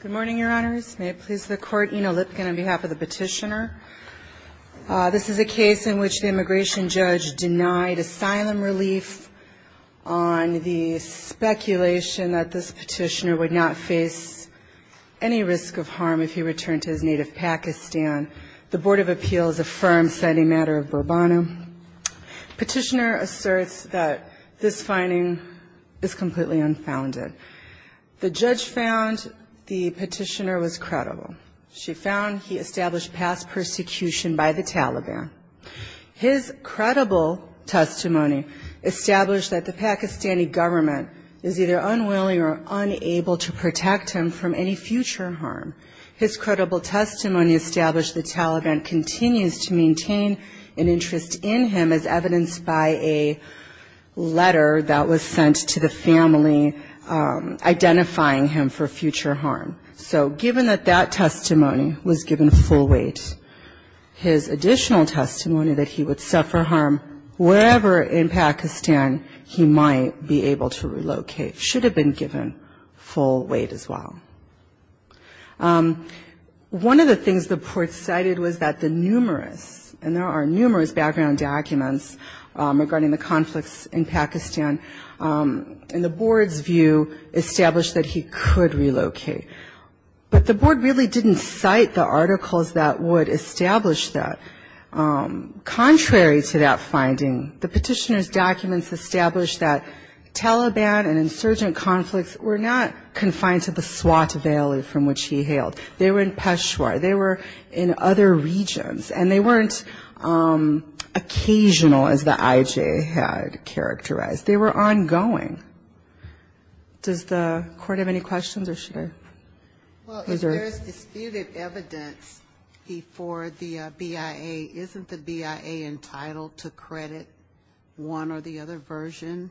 Good morning, Your Honors. May it please the Court. Ina Lipkin on behalf of the petitioner. This is a case in which the immigration judge denied asylum relief on the speculation that this petitioner would not face any risk of harm if he returned to his native Pakistan. The Board of Appeals affirms that a matter of Burbanu. Petitioner asserts that this finding is completely unfounded. The judge found the petitioner was credible. She found he established past persecution by the Taliban. His credible testimony established that the Pakistani government is either unwilling or unable to protect him from any future harm. His credible testimony established the Taliban continues to maintain an interest in him as evidenced by a letter that was sent to the family identifying him for future harm. So given that that testimony was given full weight, his additional testimony that he would suffer harm wherever in Pakistan he might be able to relocate should have been given full weight as well. One of the things the court cited was that the numerous, and there are numerous background documents regarding the conflicts in Pakistan, and the board's view established that he could relocate. But the board really didn't cite the articles that would establish that. They were in Peshawar. They were in other regions. And they weren't occasional as the I.J. had characterized. They were ongoing. Does the court have any questions or should I? If there is disputed evidence before the BIA, isn't the BIA entitled to credit one or the other version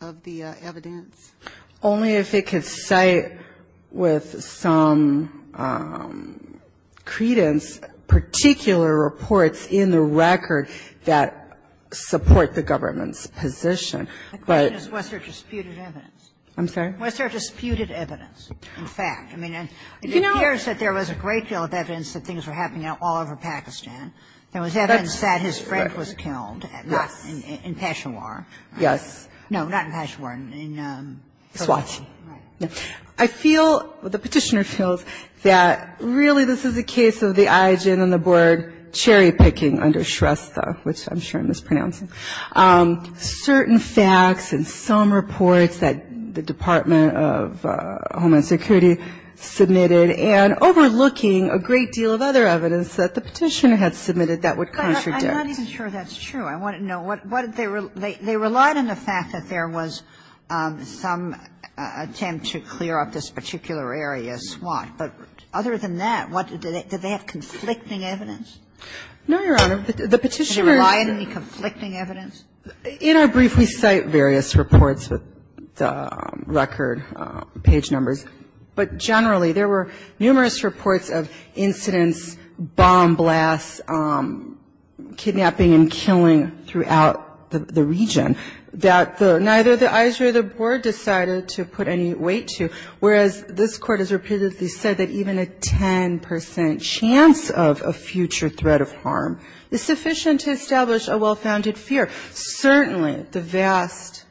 of the evidence? Only if it could cite with some credence particular reports in the record that support the government's position. The question is was there disputed evidence. I'm sorry? Was there disputed evidence, in fact? I mean, it appears that there was a great deal of evidence that things were happening all over Pakistan. There was evidence that his friend was killed, not in Peshawar. Yes. No, not in Peshawar. In Swati. Right. I feel, the Petitioner feels that really this is a case of the I.J. and the board cherry-picking under Shrestha, which I'm sure I'm mispronouncing. Certain facts and some reports that the Department of Homeland Security submitted and overlooking a great deal of other evidence that the Petitioner had submitted that would contradict. I'm not even sure that's true. I want to know what they relied on the fact that there was some attempt to clear up this particular area, Swat. But other than that, did they have conflicting evidence? No, Your Honor. The Petitioner's. Did they rely on any conflicting evidence? In our brief, we cite various reports with record page numbers. But generally, there were numerous reports of incidents, bomb blasts, kidnapping and killing throughout the region that neither the I.J. or the board decided to put any weight to. Whereas, this Court has repeatedly said that even a 10 percent chance of a future threat of harm is sufficient to establish a well-founded fear. Certainly, the vast,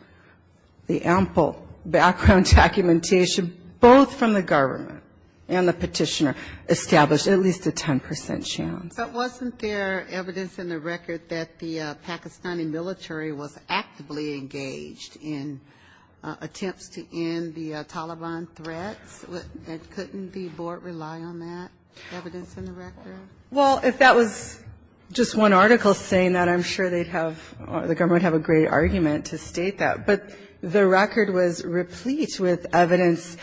the ample background documentation, both from the government and the Petitioner, established at least a 10 percent chance. But wasn't there evidence in the record that the Pakistani military was actively engaged in attempts to end the Taliban threats? Couldn't the board rely on that evidence in the record? Well, if that was just one article saying that, I'm sure they'd have, the government would have a great argument to state that. But the record was replete with evidence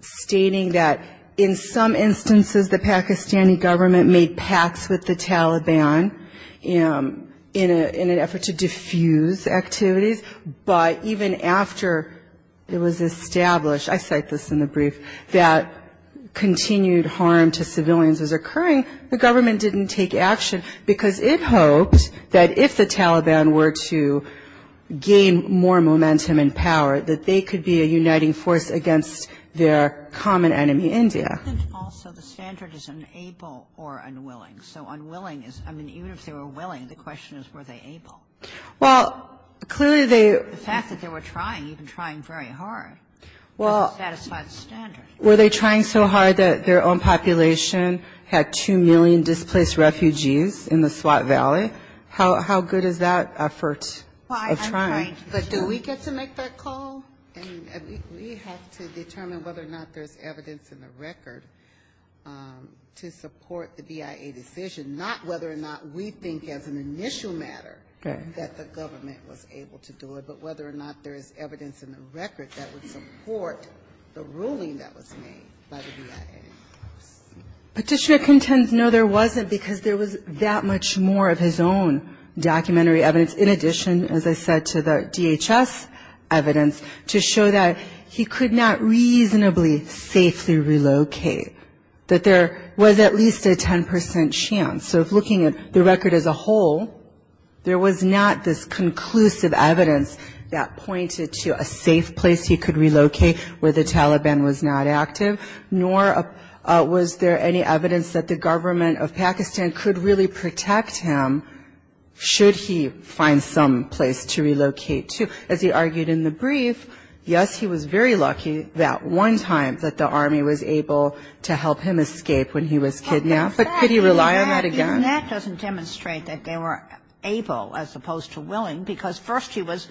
stating that in some instances, the Pakistani government made pacts with the Taliban in an effort to defuse activities. But even after it was established, I cite this in the brief, that continued harm to civilians was not sufficient. And that's why, in the case of the Taliban, the government didn't take action because it hoped that if the Taliban were to gain more momentum and power, that they could be a uniting force against their common enemy, India. But isn't also the standard is unable or unwilling? So unwilling is, I mean, even if they were willing, the question is, were they able? Well, clearly they were trying, even trying very hard to satisfy the standard. Were they trying so hard that their own population had 2 million displaced refugees in the Swat Valley? How good is that effort of trying? But do we get to make that call? And we have to determine whether or not there's evidence in the record to support the BIA decision, not whether or not we think as an initial matter that the government was able to do it, but whether or not there's evidence in the record that would support the ruling that was made by the BIA. Patricia contends, no, there wasn't, because there was that much more of his own documentary evidence, in addition, as I said, to the DHS evidence, to show that he could not reasonably safely relocate, that there was at least a 10% chance. So if looking at the record as a whole, there was not this conclusive evidence that pointed to a safe place for him to go. There was no conclusive evidence that he could relocate where the Taliban was not active, nor was there any evidence that the government of Pakistan could really protect him should he find some place to relocate to. As he argued in the brief, yes, he was very lucky that one time that the army was able to help him escape when he was kidnapped, but could he rely on that again? And that doesn't demonstrate that they were able, as opposed to willing, because first he was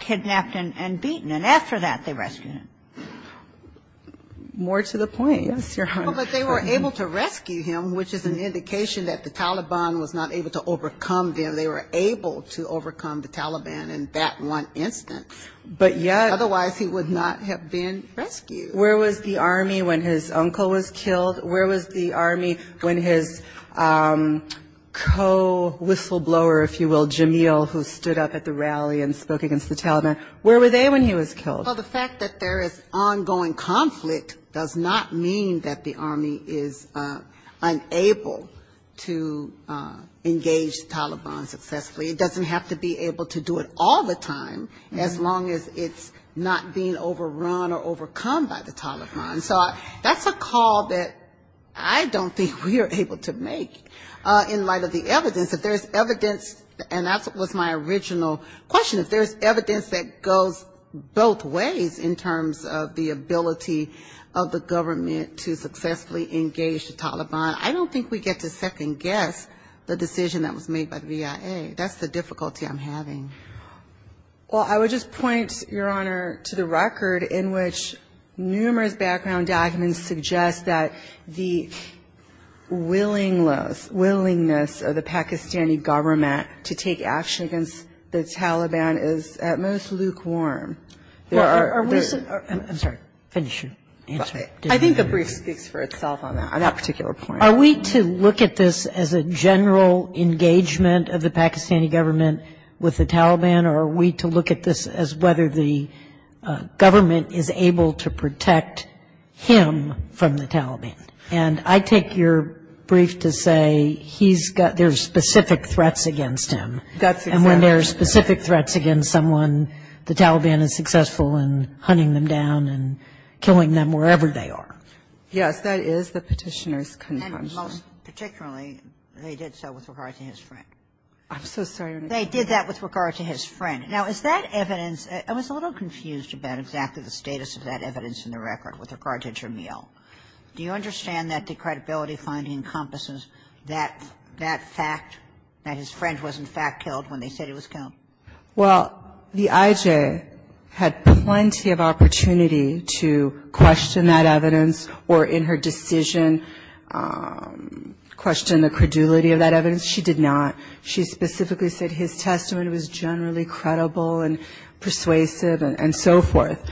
kidnapped and beaten, and after that they rescued him. More to the point, yes, Your Honor. Well, but they were able to rescue him, which is an indication that the Taliban was not able to overcome them. They were able to overcome the Taliban in that one instance. But yet otherwise he would not have been rescued. Where was the army when his uncle was killed? Where was the army when his co-whistleblower, if you will, Jamil, who stood up at the rally and spoke against the Taliban, where were they when he was killed? Well, the fact that there is ongoing conflict does not mean that the army is unable to engage the Taliban successfully. It doesn't have to be able to do it all the time, as long as it's not being overrun or overcome by the Taliban. So that's a call that I don't think we are able to make in light of the evidence. If there's evidence, and that was my original question, if there's evidence that goes both ways in terms of the ability of the government to successfully engage the Taliban, I don't think we get to second guess the decision that was made by the VIA. That's the difficulty I'm having. Well, I would just point, Your Honor, to the record in which numerous background documents suggest that the willingness of the Pakistani government to take action against the Taliban is at most lukewarm. I'm sorry, finish your answer. I think the brief speaks for itself on that particular point. Are we to look at this as a general engagement of the Pakistani government with the Taliban, or are we to look at this as whether the government is able to protect him from the Taliban? And I take your brief to say he's got, there's specific threats against him. And when there's specific threats against someone, the Taliban is successful in hunting them down and killing them wherever they are. Yes, that is the Petitioner's conclusion. And most particularly, they did so with regard to his friend. I'm so sorry, Your Honor. They did that with regard to his friend. Now, is that evidence? I was a little confused about exactly the status of that evidence in the record with regard to Jameel. Do you understand that the credibility finding encompasses that fact, that his friend was, in fact, killed when they said he was killed? Well, the IJ had plenty of opportunity to question that evidence. Or in her decision, question the credulity of that evidence. She did not. She specifically said his testimony was generally credible and persuasive and so forth.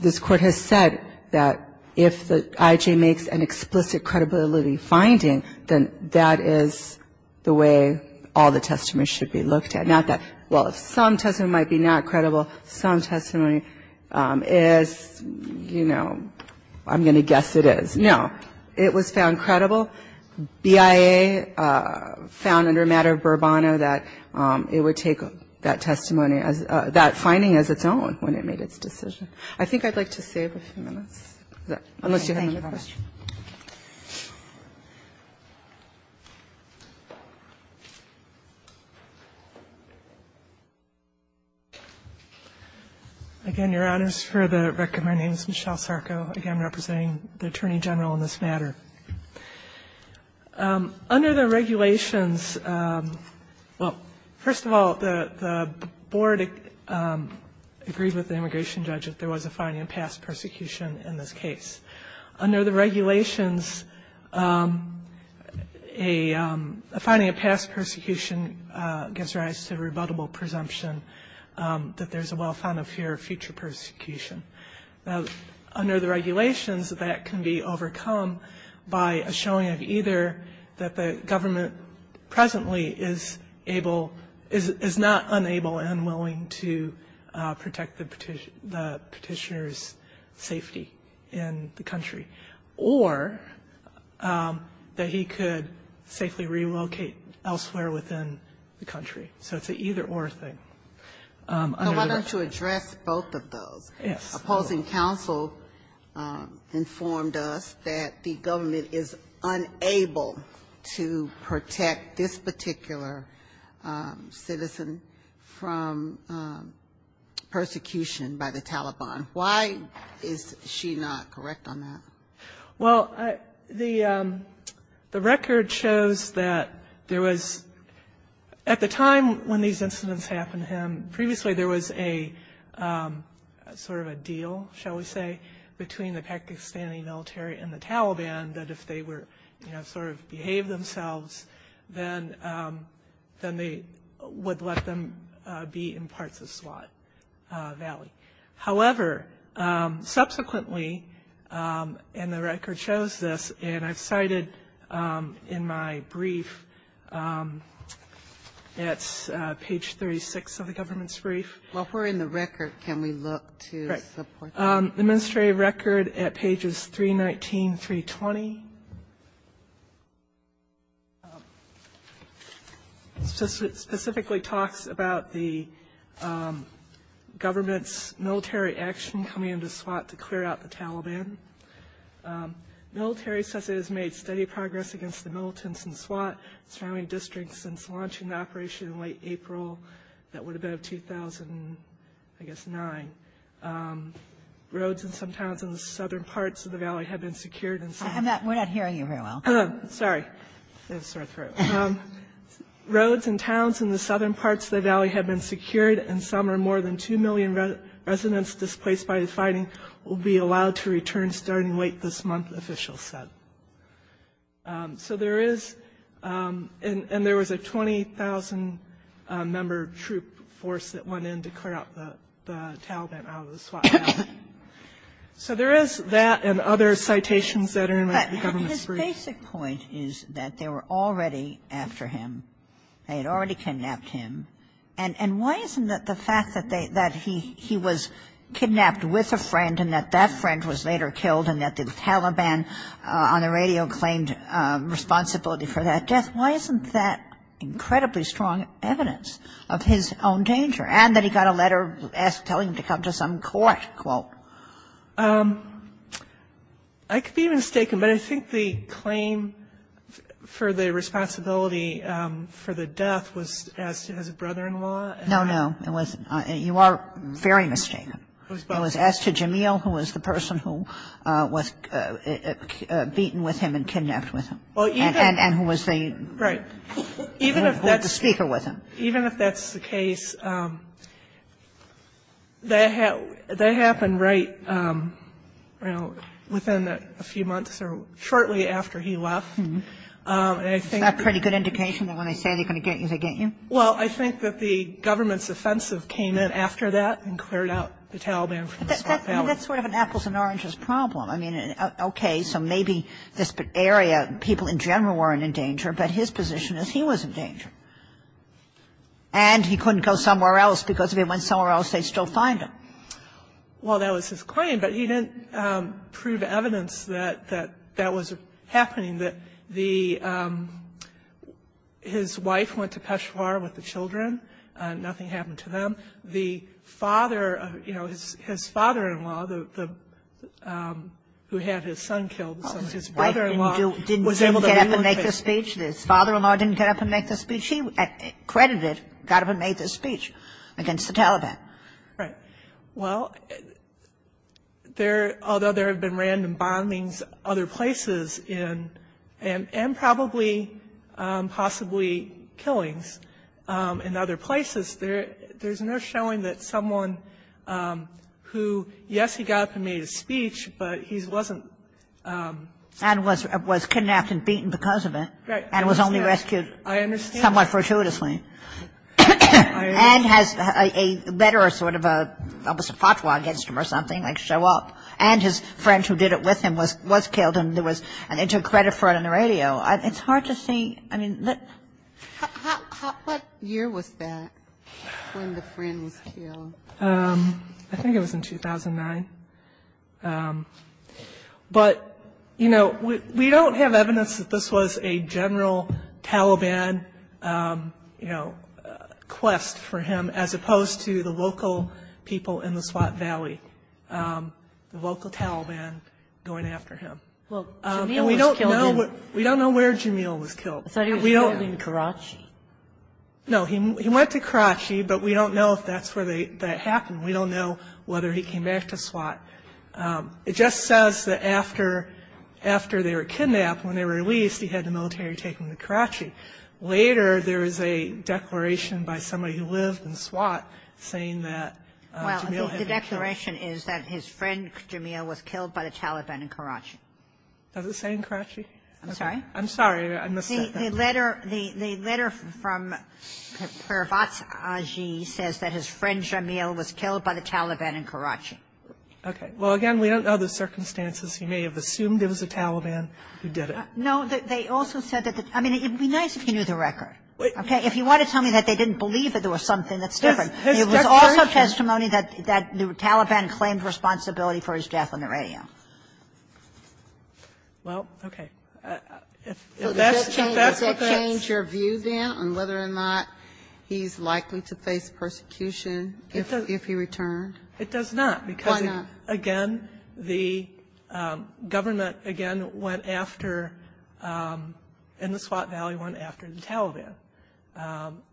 This Court has said that if the IJ makes an explicit credibility finding, then that is the way all the testimonies should be looked at. Not that, well, some testimony might be not credible. Some testimony is, you know, I'm going to guess it is. No. It was found credible. BIA found under a matter of Burbano that it would take that testimony, that finding as its own when it made its decision. I think I'd like to save a few minutes, unless you have another question. Again, Your Honors, for the record, my name is Michelle Sarko, again, representing the Attorney General in this matter. Under the regulations, well, first of all, the Board agreed with the immigration judge that there was a finding of past persecution in this case. Under the regulations, a finding of past persecution gives rise to rebuttable presumption that there's a well-founded fear of future persecution. Now, under the regulations, that can be overcome by a showing of either that the government presently is able, is not unable and unwilling to protect the Petitioner's safety in the country, or that he could safely relocate elsewhere within the country. So it's an either-or thing. Under the regulations. Ginsburg. So why don't you address both of those? Yes. Opposing counsel informed us that the government is unable to protect this particular citizen from persecution by the Taliban. Why is she not correct on that? Well, the record shows that there was, at the time when these incidents happened to him, previously there was a sort of a deal, shall we say, between the Pakistani military and the Taliban that if they were, you know, sort of behaved themselves, then they would let them be in parts of Swat Valley. And the record shows this, and I've cited in my brief, that's page 36 of the government's brief. While we're in the record, can we look to support that? The ministry record at pages 319, 320 specifically talks about the government's behavior throughout the Taliban. Military says it has made steady progress against the militants in Swat, surrounding districts, since launching the operation in late April, that would have been 2009. Roads in some towns in the southern parts of the valley have been secured and some... We're not hearing you very well. Sorry. Roads and towns in the southern parts of the valley have been secured, and some, or more than 2 million residents displaced by the fighting will be allowed to return starting late this month, officials said. So there is, and there was a 20,000-member troop force that went in to clear out the Taliban out of the Swat Valley. So there is that and other citations that are in the government's brief. But his basic point is that they were already after him. They had already kidnapped him. And why isn't the fact that he was kidnapped with a friend and that that friend was later killed and that the Taliban on the radio claimed responsibility for that death, why isn't that incredibly strong evidence of his own danger, and that he got a letter telling him to come to some court? I could be mistaken, but I think the claim for the responsibility for the death was as to his brother-in-law. No, no. You are very mistaken. It was as to Jamil, who was the person who was beaten with him and kidnapped with him, and who was the speaker with him. And that happened right, you know, within a few months or shortly after he left. And I think that's pretty good indication that when they say they're going to get you, they get you? Well, I think that the government's offensive came in after that and cleared out the Taliban from the Swat Valley. But that's sort of an apples and oranges problem. I mean, okay, so maybe this area, people in general weren't in danger, but his position is he was in danger. And he couldn't go somewhere else because if he went somewhere else, they'd still find him. Well, that was his claim, but he didn't prove evidence that that was happening, that the his wife went to Peshawar with the children and nothing happened to them. The father, you know, his father-in-law, who had his son killed, his father-in-law was able to make the speech. His wife didn't get up and make the speech? His father-in-law didn't get up and make the speech? He credited, got up and made the speech against the Taliban. Right. Well, there, although there have been random bombings other places in, and probably possibly killings in other places, there's no showing that someone who, yes, he got up and made a speech, but he wasn't. And was kidnapped and beaten because of it. Right. And was only rescued. I understand. Somewhat fortuitously. And has a letter or sort of a, almost a fatwa against him or something, like show up. And his friend who did it with him was killed, and there was a credit for it on the radio. It's hard to see. I mean, what year was that when the friend was killed? I think it was in 2009. But, you know, we don't have evidence that this was a general Taliban, you know, quest for him, as opposed to the local people in the Swat Valley, the local Taliban going after him. Well, Jamil was killed. We don't know where Jamil was killed. I thought he was killed in Karachi. No, he went to Karachi, but we don't know if that's where that happened. We don't know whether he came back to Swat. It just says that after they were kidnapped, when they were released, he had the military take him to Karachi. Later, there is a declaration by somebody who lived in Swat saying that Jamil had been killed. Well, the declaration is that his friend, Jamil, was killed by the Taliban in Karachi. Does it say in Karachi? I'm sorry? I'm sorry. I missed that. The letter from Parvati says that his friend, Jamil, was killed by the Taliban in Karachi. Okay. Well, again, we don't know the circumstances. You may have assumed it was a Taliban who did it. No, they also said that the – I mean, it would be nice if you knew the record. Okay? If you want to tell me that they didn't believe that there was something that's different. It was also testimony that the Taliban claimed responsibility for his death on the radio. Well, okay. If that's what that's – Does that change your view, then, on whether or not he's likely to face persecution if he returned? It does not. Why not? Again, the government, again, went after – in the Swat Valley went after the Taliban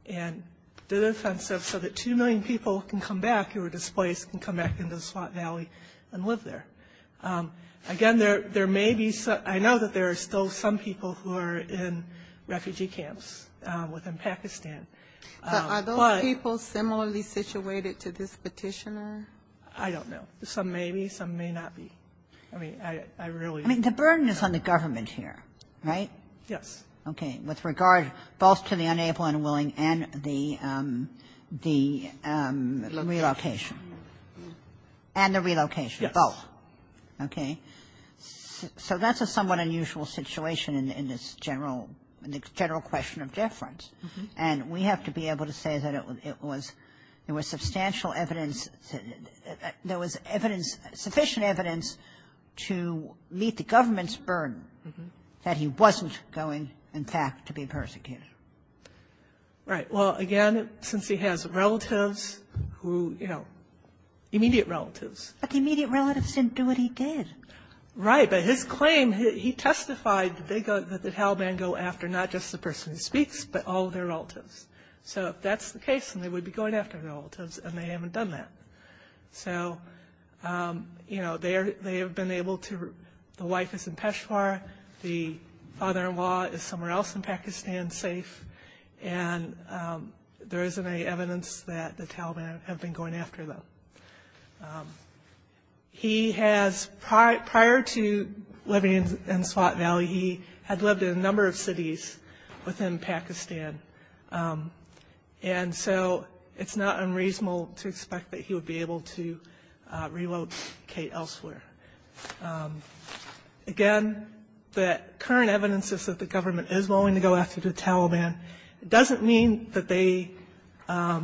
and did an offensive so that 2 million people can come back who were displaced can come back into the Swat Valley and live there. Again, there may be – I know that there are still some people who are in refugee camps within Pakistan. Are those people similarly situated to this petitioner? I don't know. Some may be. Some may not be. I mean, I really – I mean, the burden is on the government here, right? Yes. Okay. With regard both to the unable and willing and the relocation. Relocation. And the relocation. Yes. Both. Okay. So that's a somewhat unusual situation in this general – in the general question of deference. And we have to be able to say that it was – there was substantial evidence – there was evidence – sufficient evidence to meet the government's burden that he wasn't going, in fact, to be persecuted. Right. Well, again, since he has relatives who, you know, immediate relatives. But the immediate relatives didn't do what he did. Right. But his claim, he testified that they go – that the Taliban go after not just the relatives but all their relatives. So if that's the case, then they would be going after their relatives, and they haven't done that. So, you know, they have been able to – the wife is in Peshawar. The father-in-law is somewhere else in Pakistan, safe. And there isn't any evidence that the Taliban have been going after them. He has – prior to living in Swat Valley, he had lived in a number of cities within Pakistan. And so it's not unreasonable to expect that he would be able to relocate elsewhere. Again, the current evidence is that the government is willing to go after the Taliban. It doesn't mean that they – that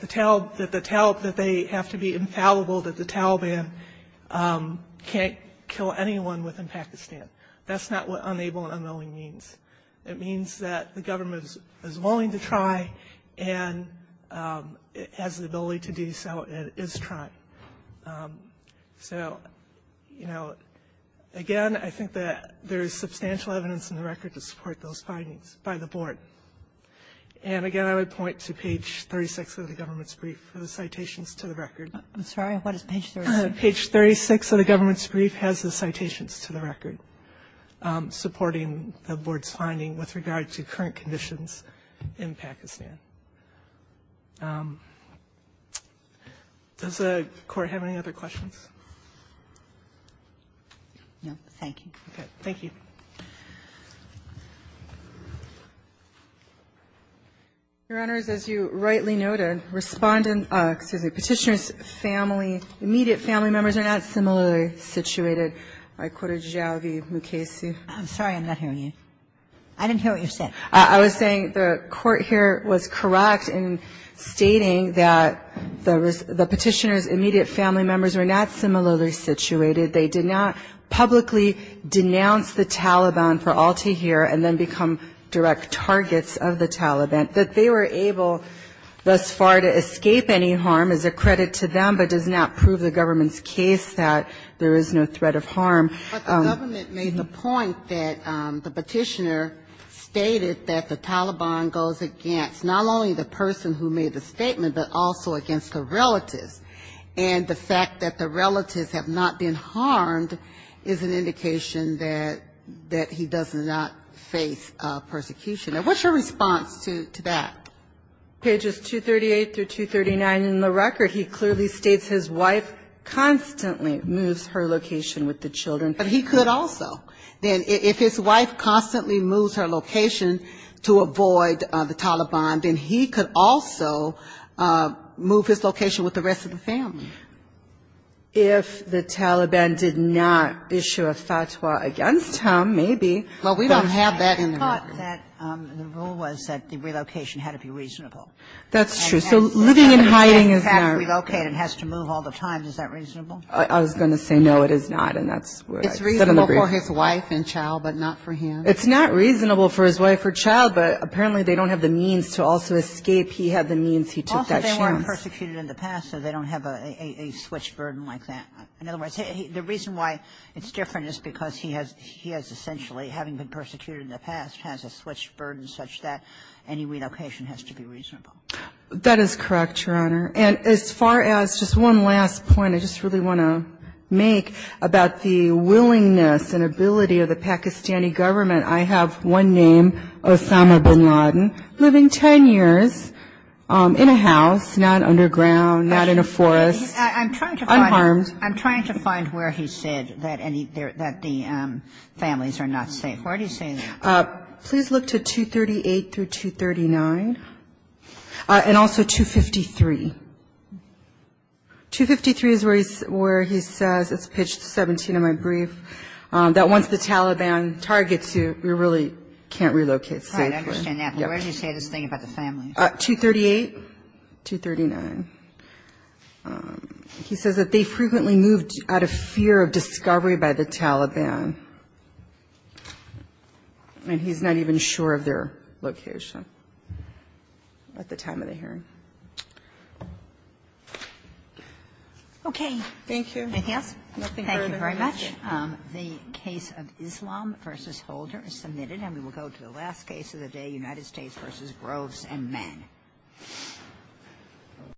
the Taliban – that they have to be infallible, that the Taliban can't kill anyone within Pakistan. That's not what unable and unwilling means. It means that the government is willing to try, and it has the ability to do so, and it is trying. So, you know, again, I think that there is substantial evidence in the record to support those findings by the board. And again, I would point to page 36 of the government's brief for the citations to the record. I'm sorry. What is page 36? Page 36 of the government's brief has the citations to the record supporting the board's finding with regard to current conditions in Pakistan. Does the Court have any other questions? No. Thank you. Okay. Thank you. Your Honors, as you rightly noted, Respondent – excuse me, Petitioner's family, immediate family members are not similarly situated. I quoted Javi Mukasey. I'm sorry. I'm not hearing you. I didn't hear what you said. I was saying the Court here was correct in stating that the Petitioner's immediate family members were not similarly situated. They did not publicly denounce the Taliban for all to hear and then become direct targets of the Taliban. That they were able thus far to escape any harm is a credit to them, but does not prove the government's case that there is no threat of harm. But the government made the point that the Petitioner stated that the Taliban goes against not only the person who made the statement, but also against the relatives. And the fact that the relatives have not been harmed is an indication that he does not face persecution. And what's your response to that? Page 238 through 239 in the record, he clearly states his wife constantly moves her location with the children. But he could also. If his wife constantly moves her location to avoid the Taliban, then he could also move his location with the rest of the family. If the Taliban did not issue a fatwa against him, maybe. Well, we don't have that in the record. The rule was that the relocation had to be reasonable. That's true. So living and hiding is not. Relocate and has to move all the time. Is that reasonable? I was going to say no, it is not. And that's what I said in the brief. It's reasonable for his wife and child, but not for him. It's not reasonable for his wife or child, but apparently they don't have the means to also escape. He had the means. He took that chance. Also, they weren't persecuted in the past, so they don't have a switch burden like that. In other words, the reason why it's different is because he has essentially, having been persecuted in the past, has a switch burden such that any relocation has to be reasonable. That is correct, Your Honor. And as far as just one last point I just really want to make about the willingness and ability of the Pakistani government, I have one name, Osama bin Laden, living 10 years in a house, not underground, not in a forest, unharmed. I'm trying to find where he said that the families are not safe. Where did he say that? Please look to 238 through 239, and also 253. 253 is where he says, it's pitched 17 in my brief, that once the Taliban targets you, you really can't relocate safely. All right. I understand that. But where did he say this thing about the families? 238, 239. He says that they frequently moved out of fear of discovery by the Taliban. And he's not even sure of their location at the time of the hearing. Okay. Thank you. Nothing further. Thank you very much. The case of Islam v. Holder is submitted. And we will go to the last case of the day, United States v. Groves and Men. Thank you.